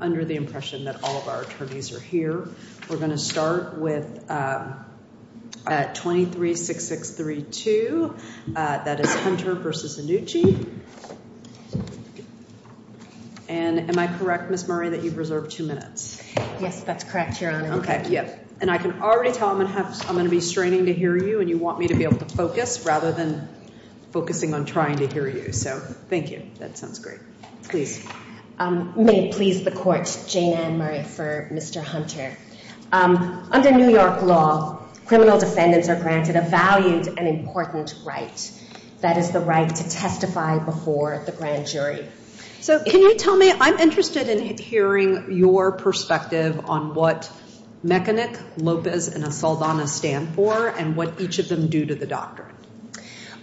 under the impression that all of our attorneys are here. We're going to start with, uh, 236632. That is Hunter versus Annucci. And am I correct, Miss Murray, that you've reserved two minutes? Yes, that's correct, Your Honor. Okay. Yep. And I can already tell I'm gonna have I'm gonna be straining to hear you and you want me to be able to focus rather than focusing on trying to hear you. So thank you. That sounds great. Please. Um, may it please the court, Jayna and Murray, for Mr. Hunter. Um, under New York law, criminal defendants are granted a valued and important right. That is the right to testify before the grand jury. So can you tell me, I'm interested in hearing your perspective on what Mechanic, Lopez and Asaldana stand for and what each of them do to the doctrine?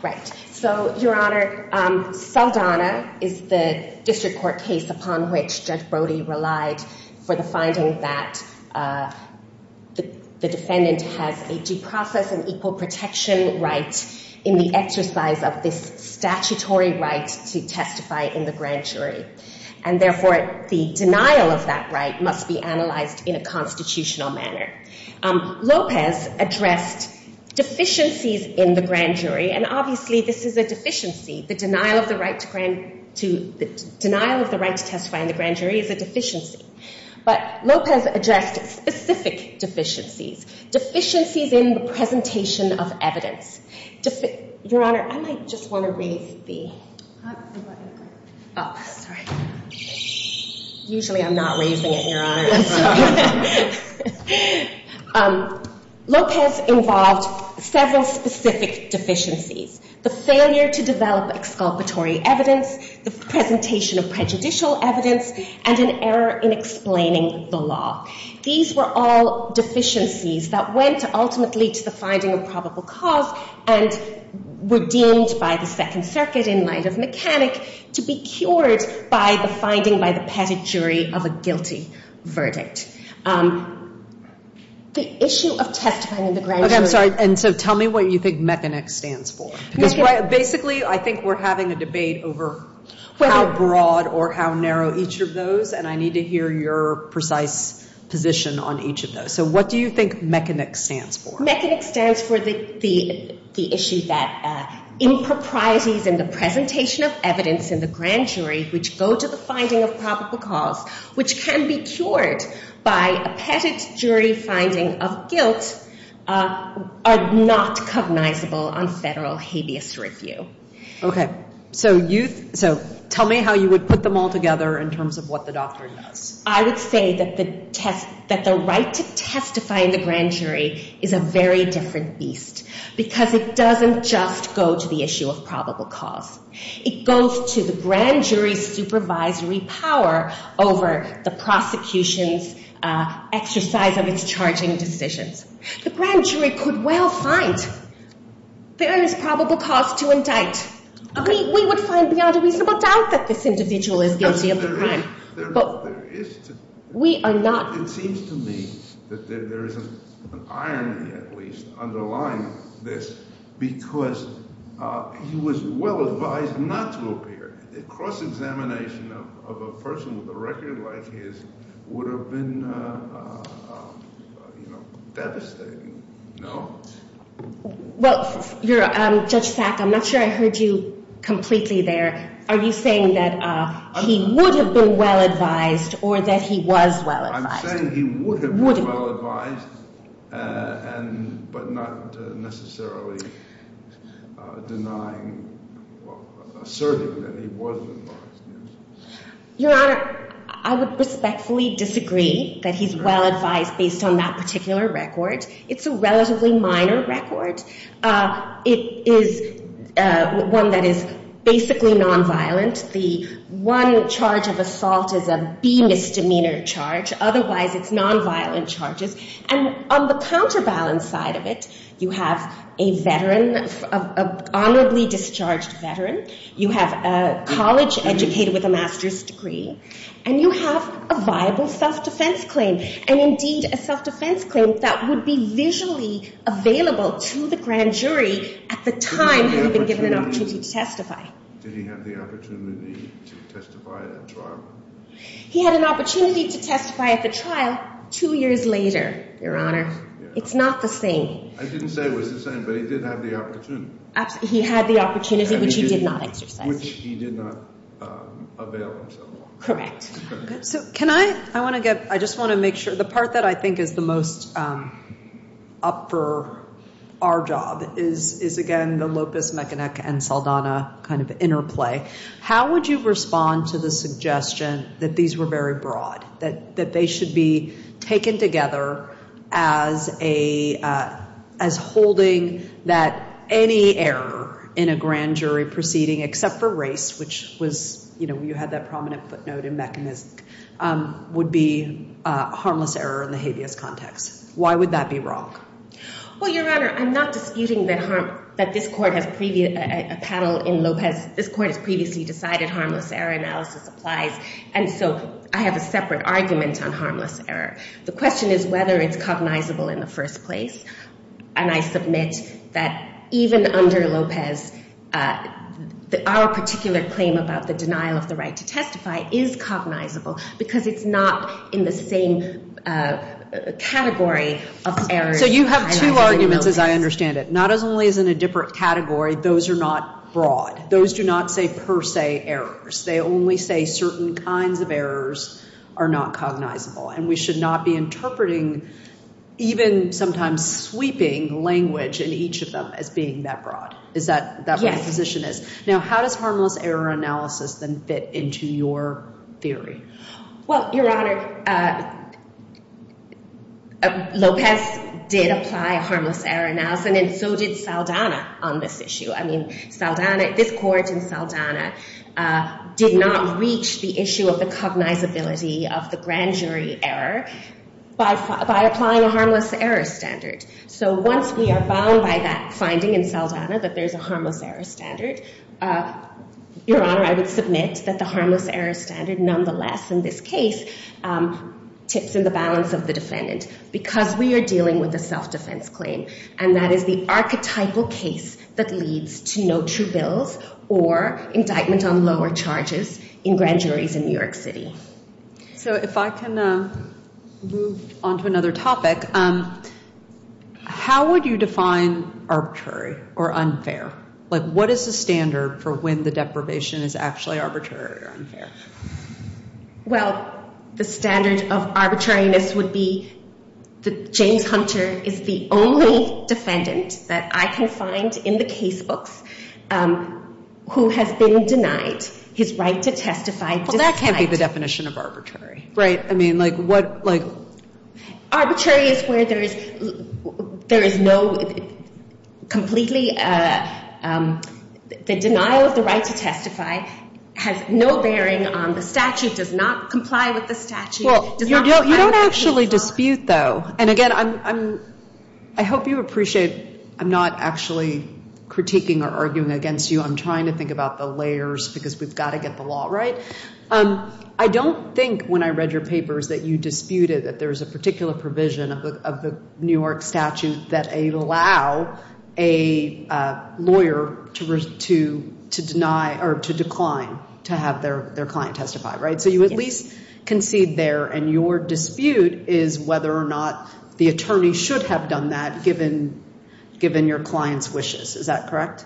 Right. So, Your Honor, Asaldana is the district court case upon which Judge Brody relied for the finding that, uh, the defendant has a due process and equal protection right in the exercise of this statutory right to testify in the grand jury. And obviously this is a deficiency. The denial of the right to testify in the grand jury is a deficiency. But Lopez addressed specific deficiencies. Deficiencies in the presentation of evidence. Your Honor, I might just want to raise the, oh, sorry. Usually I'm not raising it, so. Um, Lopez involved several specific deficiencies. The failure to develop exculpatory evidence, the presentation of prejudicial evidence, and an error in explaining the law. These were all deficiencies that went ultimately to the finding of probable cause and were deemed by the district court to be deficiencies. So, um, the issue of testifying in the grand jury. Okay, I'm sorry. And so tell me what you think Mechanic stands for. Because basically I think we're having a debate over how broad or how narrow each of those, and I need to hear your precise position on each of those. So what do you think Mechanic stands for? Mechanic stands for the issue that, uh, improprieties in the presentation of evidence in the grand jury are not recognizable on federal habeas review. Okay. So you, so tell me how you would put them all together in terms of what the doctrine does. I would say that the test, that the right to testify in the grand jury is a very different beast. Because it doesn't just go to the issue of probable cause. It goes to the grand jury's supervisory power over the prosecution's exercise of its charging decisions. The grand jury could well find there is probable cause to indict. We would find beyond a reasonable doubt that this individual is guilty of the crime. But we are not. It seems to me that there is an underlying this, because he was well advised not to appear. A cross-examination of a person with a record like his would have been, you know, devastating. No? Well, Judge Sack, I'm not sure I heard you completely there. Are you saying that he would have been well advised or that he was well advised? I'm saying he would have been well advised, but not necessarily denying, asserting that he was well advised. Your Honor, I would respectfully disagree that he's well advised based on that particular record. It's a relatively minor record. It is one that is basically nonviolent. The one charge of assault is a B misdemeanor charge. Otherwise, it's nonviolent charges. And on the counterbalance side of it, you have a veteran, an honorably discharged veteran. You have a college educated with a master's degree. And you have a viable self-defense claim. And indeed, a self-defense claim that would be visually available to the grand jury at the time he had been given an opportunity to testify. He had an opportunity to testify at the trial two years later, Your Honor. It's not the same. I didn't say it was the same, but he did have the opportunity. He had the opportunity, which he did not exercise. Which he did not avail himself of. Correct. So can I, I want to get, I just want to make sure, the part that I think is the most up for our job is again, the Lopez, McKinnock, and Saldana kind of interplay. How would you respond to the suggestion that these were very broad? That they should be taken together as a, as holding that any error in a grand jury proceeding, except for race, which was, you know, you had that prominent footnote. And that would be a harmless error in the habeas context. Why would that be wrong? Well, Your Honor, I'm not disputing that harm, that this court has a panel in Lopez. This court has previously decided harmless error analysis applies. And so I have a separate argument on harmless error. The question is whether it's cognizable in the first place. And I submit that even under Lopez, our particular claim about the denial of the right to testify is cognizable, because it's not in the same category of errors. So you have two arguments, as I understand it. Not only is it in a different category, those are not broad. Those do not say per se errors. They only say certain kinds of errors are not cognizable. And we should not be interpreting even sometimes sweeping language in each of them as being that broad. Is that what the position is? Now, how does harmless error analysis then fit into your theory? Well, Your Honor, Lopez did apply harmless error analysis, and so did Saldana on this issue. I mean, Saldana, this court in Saldana did not reach the issue of the cognizability of the grand jury error by applying a harmless error standard. So once we are bound by that finding in Saldana that there's a harmless error standard, Your Honor, I would submit that the harmless error standard nonetheless in this case tips in the balance of the defendant, because we are dealing with a self-defense claim. And that is the archetypal case that leads to no true bills or indictment on lower charges in grand juries in New York City. So if I can move on to another topic, how would you define arbitrary or unfair? Like, what is the standard for when the deprivation is actually arbitrary or unfair? Well, the standard of arbitrariness would be that James Hunter is the only defendant that I can find in the casebooks who has been denied his right to testify. Well, that can't be the definition of arbitrary. Right. I mean, like, what, like... Arbitrary is where there is no completely, the denial of the right to testify has no bearing on the statute, does not comply with the statute. Well, you don't actually dispute, though. And again, I hope you appreciate, I'm not actually critiquing or arguing against you. I'm trying to think about the layers, because we've got to get the law right. I don't think when I read your papers that you disputed that there is a particular provision of the New York statute that allow a lawyer to deny or to decline to have their client testify. So you at least concede there, and your dispute is whether or not the attorney should have done that, given your client's wishes. Is that correct?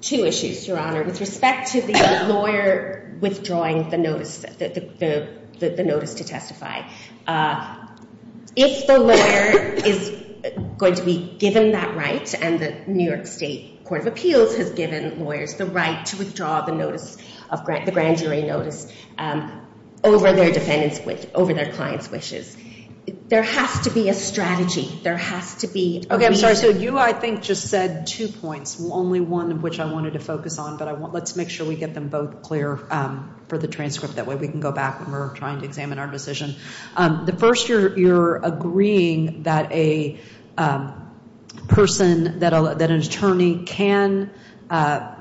Two issues, Your Honor. With respect to the lawyer withdrawing the notice to testify. If the lawyer is going to be given that right, and the New York State Court of Appeals has given lawyers the right to withdraw the notice, the grand jury notice, over their client's wishes, there has to be a strategy. Okay, I'm sorry. So you, I think, just said two points, only one of which I wanted to focus on. But let's make sure we get them both clear for the transcript. That way we can go back when we're trying to examine our decision. The first, you're agreeing that a person, that an attorney can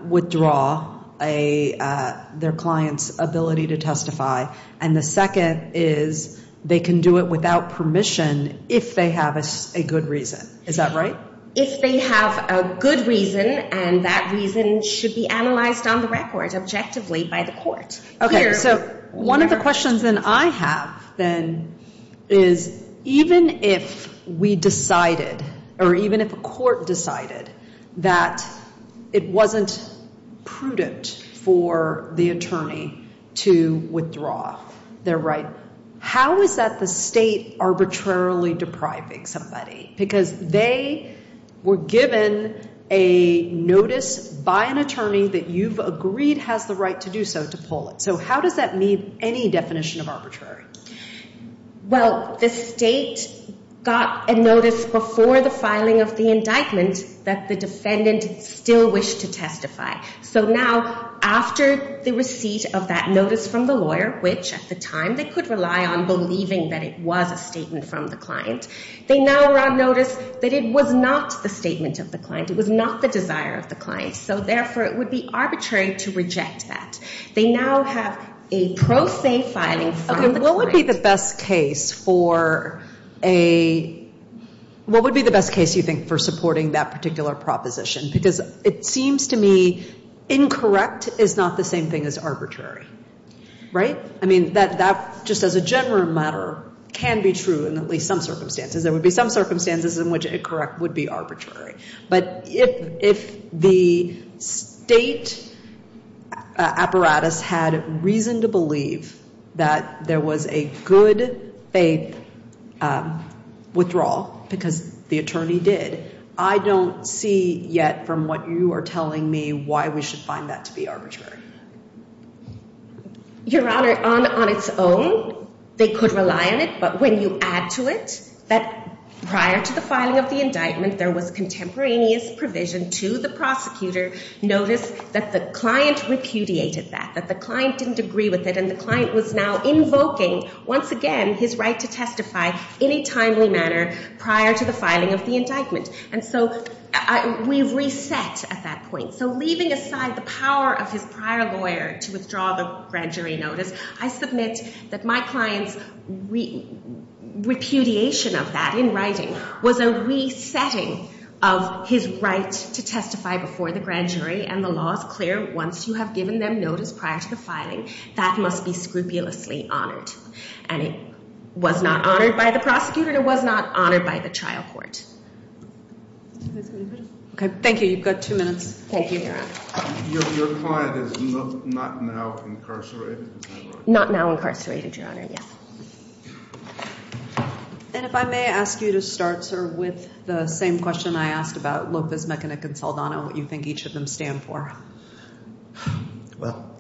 withdraw their client's ability to testify. And the second is they can do it without permission if they have a good reason. Is that right? If they have a good reason, and that reason should be analyzed on the record, objectively, by the court. Okay, so one of the questions that I have, then, is even if we decided, or even if a court decided that it wasn't prudent for the attorney to withdraw their right, how is that the state arbitrarily depriving somebody? Because they were given a notice by an attorney that you've agreed has the right to do so, to pull it. So how does that meet any definition of arbitrary? Well, the state got a notice before the filing of the indictment that the defendant still wished to testify. So now, after the receipt of that notice from the lawyer, which, at the time, they could rely on believing that it was a statement from the client, they now were on notice that it was not the statement of the client. It was not the desire of the client. So therefore, it would be arbitrary to reject that. They now have a pro se filing from the client. Okay, what would be the best case, you think, for supporting that particular proposition? Because it seems to me incorrect is not the same thing as arbitrary, right? I mean, that, just as a general matter, can be true in at least some circumstances. There would be some circumstances in which incorrect would be arbitrary. But if the state apparatus had reason to believe that there was a good faith withdrawal, because the attorney did, I don't see yet, from what you are telling me, why we should find that to be arbitrary. Your Honor, on its own, they could rely on it. But when you add to it that prior to the filing of the indictment, there was contemporaneous provision to the prosecutor, notice that the client repudiated that. That the client didn't agree with it, and the client was now invoking, once again, his right to testify in a timely manner prior to the filing of the indictment. And so we've reset at that point. So leaving aside the power of his prior lawyer to withdraw the grand jury notice, I submit that my client's repudiation of that in writing was a resetting of his right to testify before the grand jury. And the law is clear. Once you have given them notice prior to the filing, that must be scrupulously honored. And it was not honored by the prosecutor, and it was not honored by the trial court. Thank you. You've got two minutes. Your client is not now incarcerated? Not now incarcerated, Your Honor, yes. And if I may ask you to start, sir, with the same question I asked about Lopez, Mekinick, and Saldana, what you think each of them stand for. Well,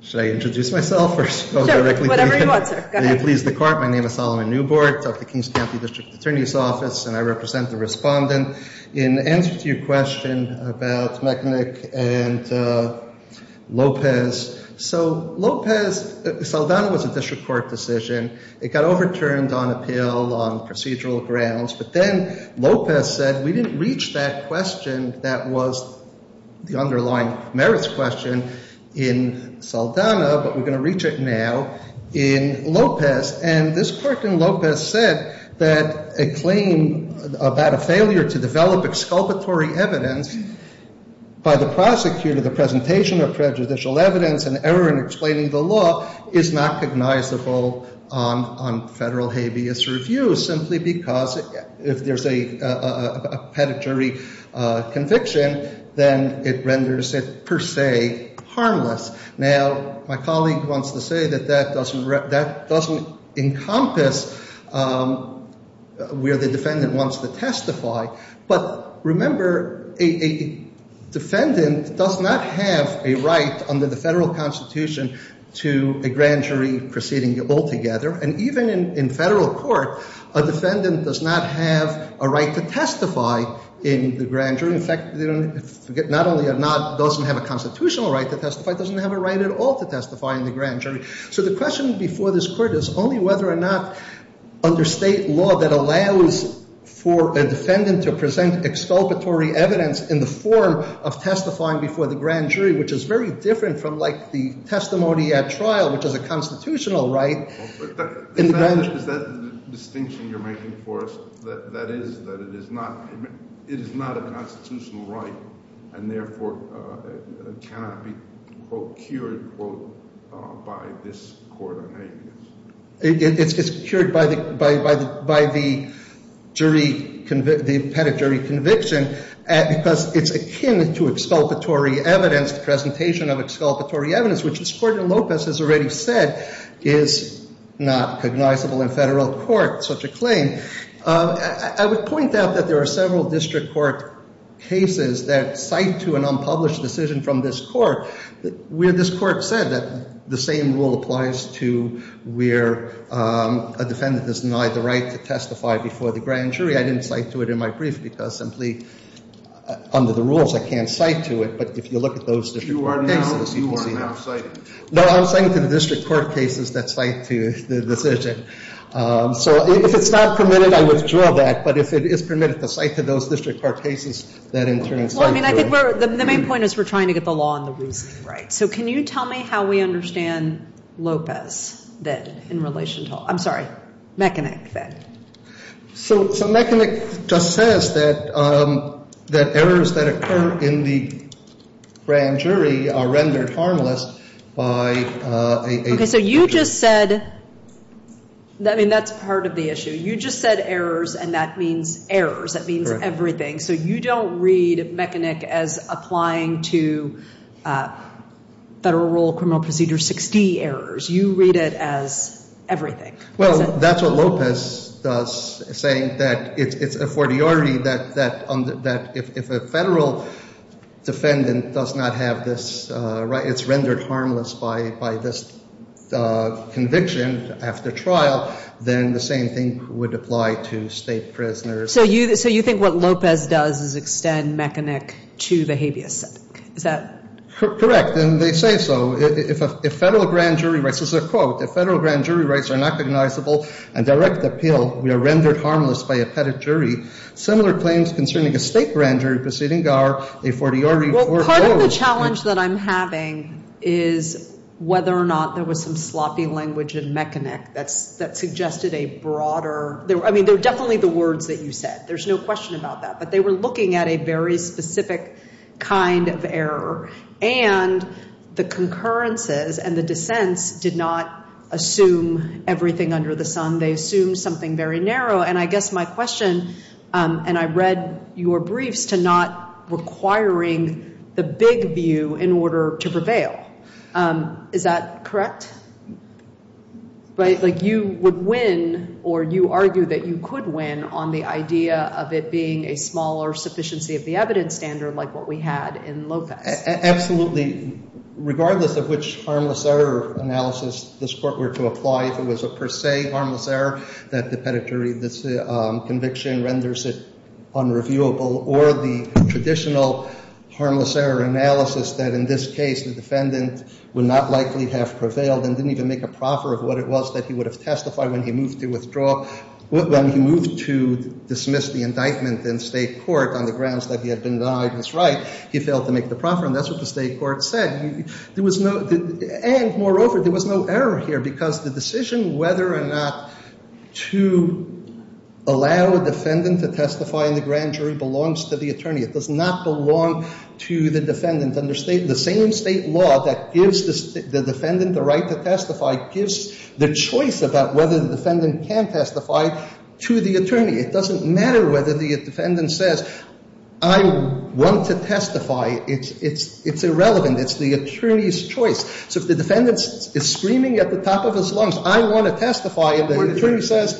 should I introduce myself? Sure, whatever you want, sir. In answer to your question about Mekinick and Lopez, Saldana was a district court decision. It got overturned on appeal, on procedural grounds. But then Lopez said, we didn't reach that question that was the underlying merits question in Saldana, but we're going to reach it now in Lopez. And this court in Lopez said that a claim about a failure to develop exculpatory evidence by the prosecutor, the presentation of prejudicial evidence, and error in explaining the law is not cognizable on federal habeas review, simply because if there's a pedigree conviction, then it renders it, per se, harmless. Now, my colleague wants to say that that doesn't encompass where the defendant wants to testify. But remember, a defendant does not have a right under the federal constitution to a grand jury proceeding altogether. And even in federal court, a defendant does not have a right to testify in the grand jury. In fact, not only does it not have a constitutional right to testify, it doesn't have a right at all to testify in the grand jury. So the question before this court is only whether or not under state law that allows for a defendant to present exculpatory evidence in the form of testifying before the grand jury, which is very different from like the testimony at trial, which is a constitutional right. Is that the distinction you're making for us? That is, that it is not a constitutional right and therefore cannot be, quote, cured, quote, by this court on habeas? It's cured by the jury, the pedigree conviction, because it's akin to exculpatory evidence, the presentation of exculpatory evidence, which, as Courtney Lopez has already said, is not cognizable in federal court, such a claim. I would point out that there are several district court cases that cite to an unpublished decision from this court where this court said that the same rule applies to where a defendant is denied the right to testify before the grand jury. I didn't cite to it in my brief because simply under the rules, I can't cite to it. But if you look at those district court cases, you can see that. No, I'm saying to the district court cases that cite to the decision. So if it's not permitted, I withdraw that. But if it is permitted to cite to those district court cases, that in turn cites to it. Well, I mean, I think the main point is we're trying to get the law and the reasoning right. So can you tell me how we understand Lopez that in relation to, I'm sorry, Mekanek that? So Mekanek just says that errors that occur in the grand jury are rendered harmless by a. Okay, so you just said. I mean, that's part of the issue. You just said errors, and that means errors. That means everything. So you don't read Mekanek as applying to federal rule criminal procedure 60 errors. You read it as everything. Well, that's what Lopez does, saying that it's the fortiority that if a federal defendant does not have this, it's rendered harmless by this conviction after trial, then the same thing would apply to state prisoners. So you think what Lopez does is extend Mekanek to the habeas? Is that correct? And they say so. If federal grand jury rights, this is a quote. If federal grand jury rights are not recognizable and direct appeal, we are rendered harmless by a petted jury. Similar claims concerning a state grand jury proceeding are a fortiority. Well, part of the challenge that I'm having is whether or not there was some sloppy language in Mekanek that suggested a broader. I mean, they're definitely the words that you said. There's no question about that. But they were looking at a very specific kind of error. And the concurrences and the dissents did not assume everything under the sun. They assumed something very narrow. And I guess my question, and I read your briefs, to not requiring the big view in order to prevail. Is that correct? Like you would win, or you argue that you could win on the idea of it being a smaller sufficiency of the evidence standard like what we had in Lopez. Absolutely. Regardless of which harmless error analysis this Court were to apply, if it was a per se harmless error that the petted jury conviction renders it unreviewable, or the traditional harmless error analysis that in this case the defendant would not likely have prevailed and didn't even make a proffer of what it was that he would have testified when he moved to withdraw, when he moved to dismiss the indictment in state court on the grounds that he had been denied his right, he failed to make the proffer. And that's what the state court said. And moreover, there was no error here. Because the decision whether or not to allow a defendant to testify in the grand jury belongs to the attorney. It does not belong to the defendant. And the same state law that gives the defendant the right to testify gives the choice about whether the defendant can testify to the attorney. It doesn't matter whether the defendant says, I want to testify. It's irrelevant. It's the attorney's choice. So if the defendant is screaming at the top of his lungs, I want to testify, and the attorney says...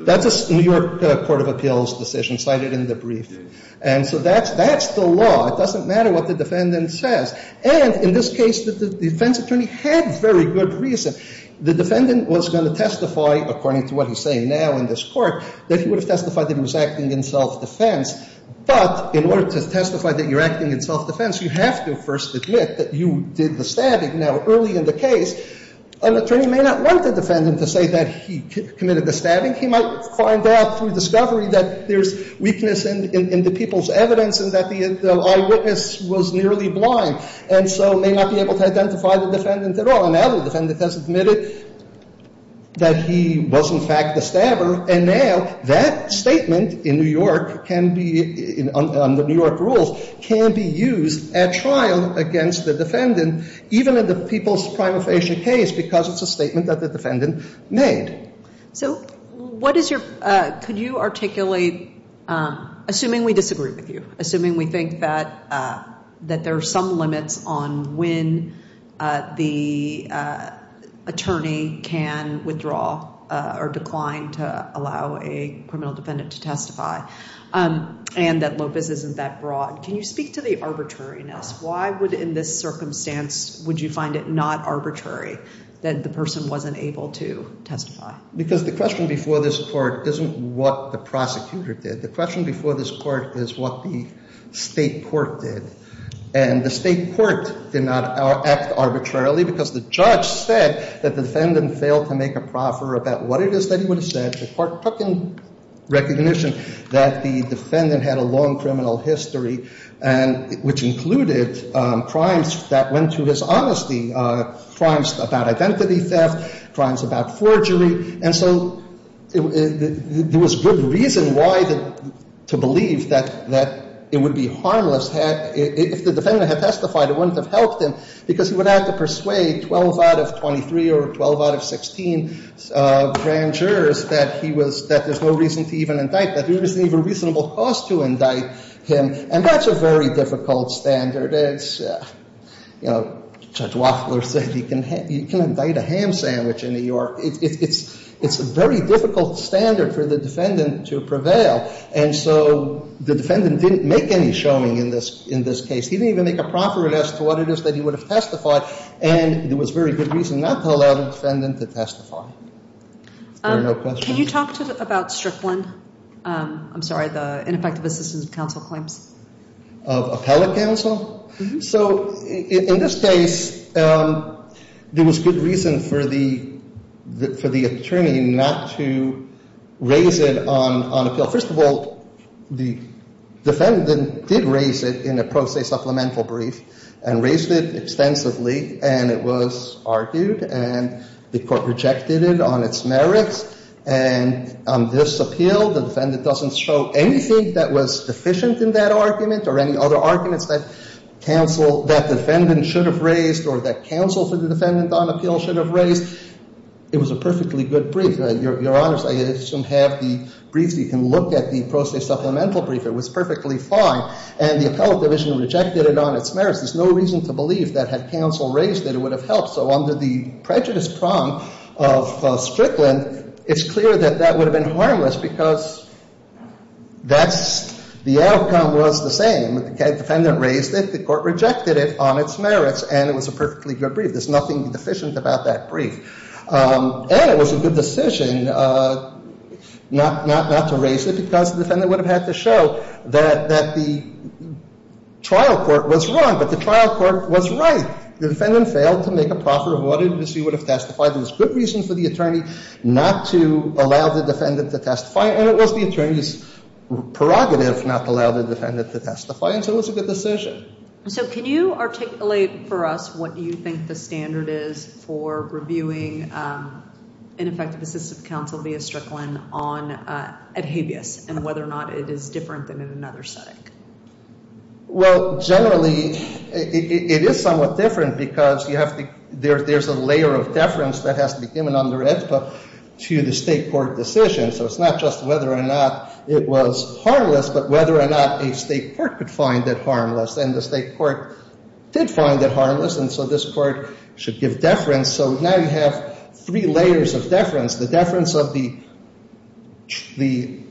That's a New York Court of Appeals decision cited in the brief. And so that's the law. It doesn't matter what the defendant says. And in this case, the defense attorney had very good reason. The defendant was going to testify, according to what he's saying now in this court, that he would have testified that he was acting in self-defense. But in order to testify that you're acting in self-defense, you have to first admit that you did the stabbing. Now, early in the case, an attorney may not want the defendant to say that he committed the stabbing. He might find out through discovery that there's weakness in the people's evidence and that the eyewitness was nearly blind, and so may not be able to identify the defendant at all. And now the defendant has admitted that he was, in fact, the defendant. And so that can be, under New York rules, can be used at trial against the defendant, even in the people's prima facie case, because it's a statement that the defendant made. So what is your... Could you articulate... Assuming we disagree with you. Assuming we think that there are some limits on when the attorney can withdraw or decline to allow a criminal defendant to testify and that Lopez isn't that broad, can you speak to the arbitrariness? Why would, in this circumstance, would you find it not arbitrary that the person wasn't able to testify? Because the question before this court isn't what the prosecutor did. The question before this court is what the state court did. And the state court did not act arbitrarily because the judge said that the defendant failed to make a proffer about what it is that he would have said. The court took in recognition that the defendant had a long criminal history, which included crimes that went to his honesty, crimes about identity theft, crimes about forgery. And so there was good reason why to believe that it would be harmless if the defendant had testified. It wouldn't have helped him because he would have to persuade 12 out of 23 or 12 out of 16 grand jurors that there's no reason to even indict him. There's no reasonable cause to indict him. And that's a very difficult standard. It's, you know, Judge Woffler said you can indict a ham sandwich in New York. It's a very difficult standard for the defendant to prevail. And so the defendant didn't make any showing in this case. He didn't even make a proffer as to what it is that he would have testified. And there was very good reason not to allow the defendant to testify. There are no questions. Can you talk about Strickland? I'm sorry, the ineffective assistance of counsel claims? Of appellate counsel? So in this case, there was good reason for the attorney not to raise it on appeal. First of all, the defendant did raise it in a pro se supplemental brief and raised it extensively. And it was argued. And the Court rejected it on its merits. And on this appeal, the defendant doesn't show anything that was deficient in that argument or any other arguments that counsel, that defendant should have raised or that counsel for the defendant on appeal should have raised. It was a perfectly good brief. Your Honors, I assume have the brief. You can look at the pro se supplemental brief. It was perfectly fine. And the appellate division rejected it on its merits. There's no reason to believe that had counsel raised it, it would have helped. So under the prejudice prong of Strickland, it's clear that that would have been harmless because that's, the outcome was the same. The defendant raised it. The Court rejected it on its merits. And it was a perfectly good brief. There's nothing deficient about that brief. And it was a good decision not to raise it because the defendant would have had to show that the trial court was wrong. But the trial court was right. The defendant failed to make a proffer of what it would have testified. There was good reason for the attorney not to allow the defendant to testify. And it was the attorney's prerogative not to allow the defendant to testify. And so it was a good decision. So can you articulate for us what you think the standard is for reviewing ineffective assistive counsel via Strickland on ad habeas and whether or not it is different than in another setting? Well, generally, it is somewhat different because there's a layer of deference that has to be given under AEDPA to the state court decision. So it's not just whether or not it was harmless, but whether or not a state court could find it harmless. And the state court did find it harmless. And so this court should give deference. So now you have three layers of deference. The deference of the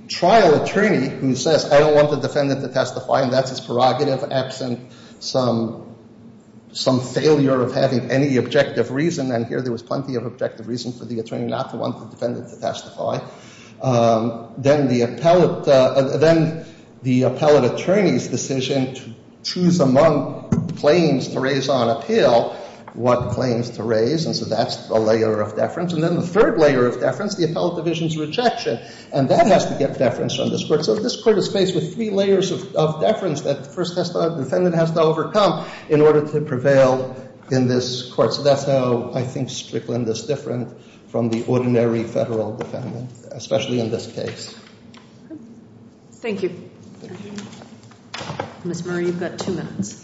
trial attorney who says, I don't want the defendant to testify. And that's his prerogative absent some failure of having any objective reason. And here there was plenty of objective reason for the attorney not to want the defendant to testify. Then the appellate attorney's decision to choose among claims to raise on appeal what claims to raise. And so that's a layer of deference. And then the third layer of deference, the appellate division's rejection. And that has to get deference from this court. And so this court is faced with three layers of deference that the first defendant has to overcome in order to prevail in this court. So that's how I think Strickland is different from the ordinary federal defendant, especially in this case. Thank you. Ms. Murray, you've got two minutes.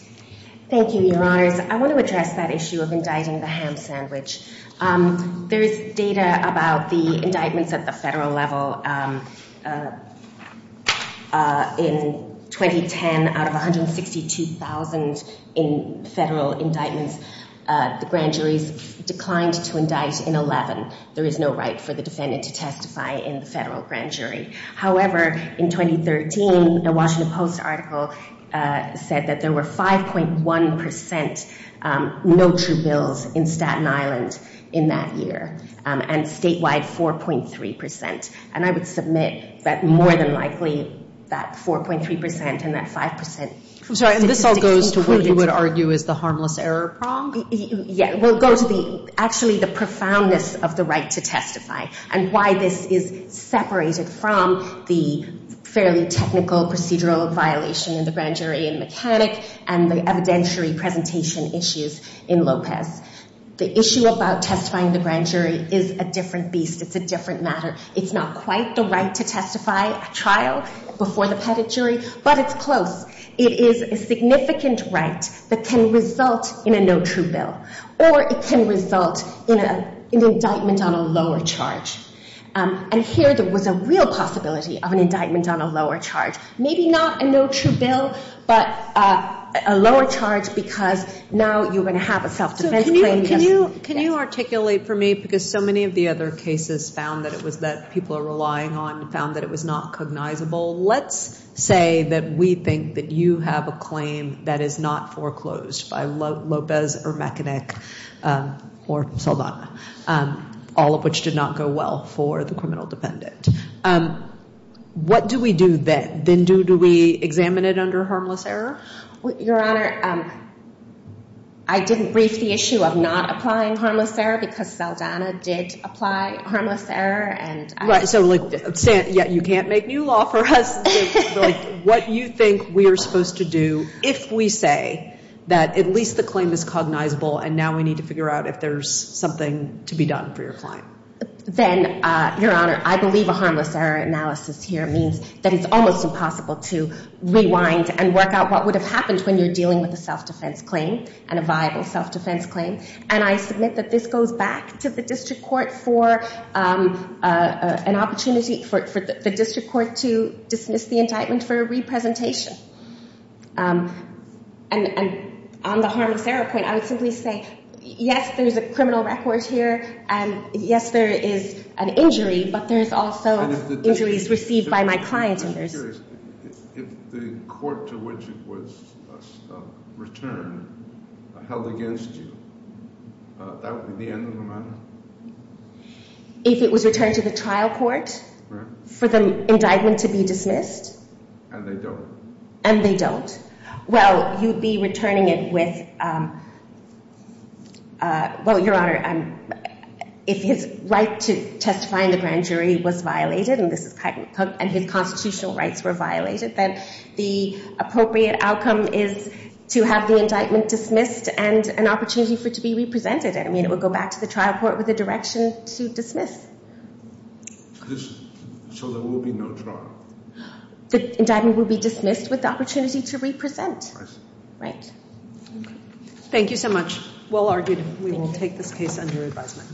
Thank you, Your Honors. I want to address that issue of indicting the ham sandwich. There is data about the indictments at the federal level. In 2010, out of 162,000 in federal indictments, the grand juries declined to indict in 11. There is no right for the defendant to testify in the federal grand jury. However, in 2013, the Washington Post article said that there were 5.1% no true bills in Staten Island in that year. And statewide, 4.3%. And I would submit that more than likely that 4.3% and that 5% statistics included... I'm sorry, and this all goes to what you would argue is the harmless error prong? Yeah, it will go to actually the profoundness of the right to testify. And why this is separated from the fairly technical procedural violation in the grand jury in McCannick and the evidentiary presentation issues in Lopez. The issue about testifying in the grand jury is a different beast. It's a different matter. It's not quite the right to testify at trial before the pettit jury, but it's close. It is a significant right that can result in a no true bill. Or it can result in an indictment on a lower charge. And here there was a real possibility of an indictment on a lower charge. Maybe not a no true bill, but a lower charge because now you're going to have a self defense claim. Can you articulate for me, because so many of the other cases found that people are relying on found that it was not cognizable. Let's say that we think that you have a claim that is not foreclosed by Lopez or McCannick or Saldana, all of which did not go well for the criminal dependent. What do we do then? Do we examine it under harmless error? Your Honor, I didn't brief the issue of not applying harmless error because Saldana did apply harmless error. You can't make new law for us. What you think we are supposed to do if we say that at least the claim is cognizable and now we need to figure out if there's something to be done for your client. Your Honor, I believe a harmless error analysis here means that it's almost impossible to rewind and work out what would have happened if I went back to the district court for an opportunity for the district court to dismiss the indictment for a re-presentation. And on the harmless error point, I would simply say, yes, there's a criminal record here, and yes, there is an injury, but there's also injuries received by my client. I'm just curious, if the court to which it was returned held against you, that would be the end of the matter? If it was returned to the trial court for the indictment to be dismissed? And they don't. And they don't. Well, you'd be returning it with... Well, Your Honor, if his right to testify in the grand jury was violated and his constitutional rights were violated, then the appropriate outcome is to have the indictment dismissed and an opportunity for it to be re-presented. I mean, it would go back to the trial court with a direction to dismiss. So there will be no trial? The indictment will be dismissed with the opportunity to re-present. Thank you so much. Well argued. We will take this case under advisement.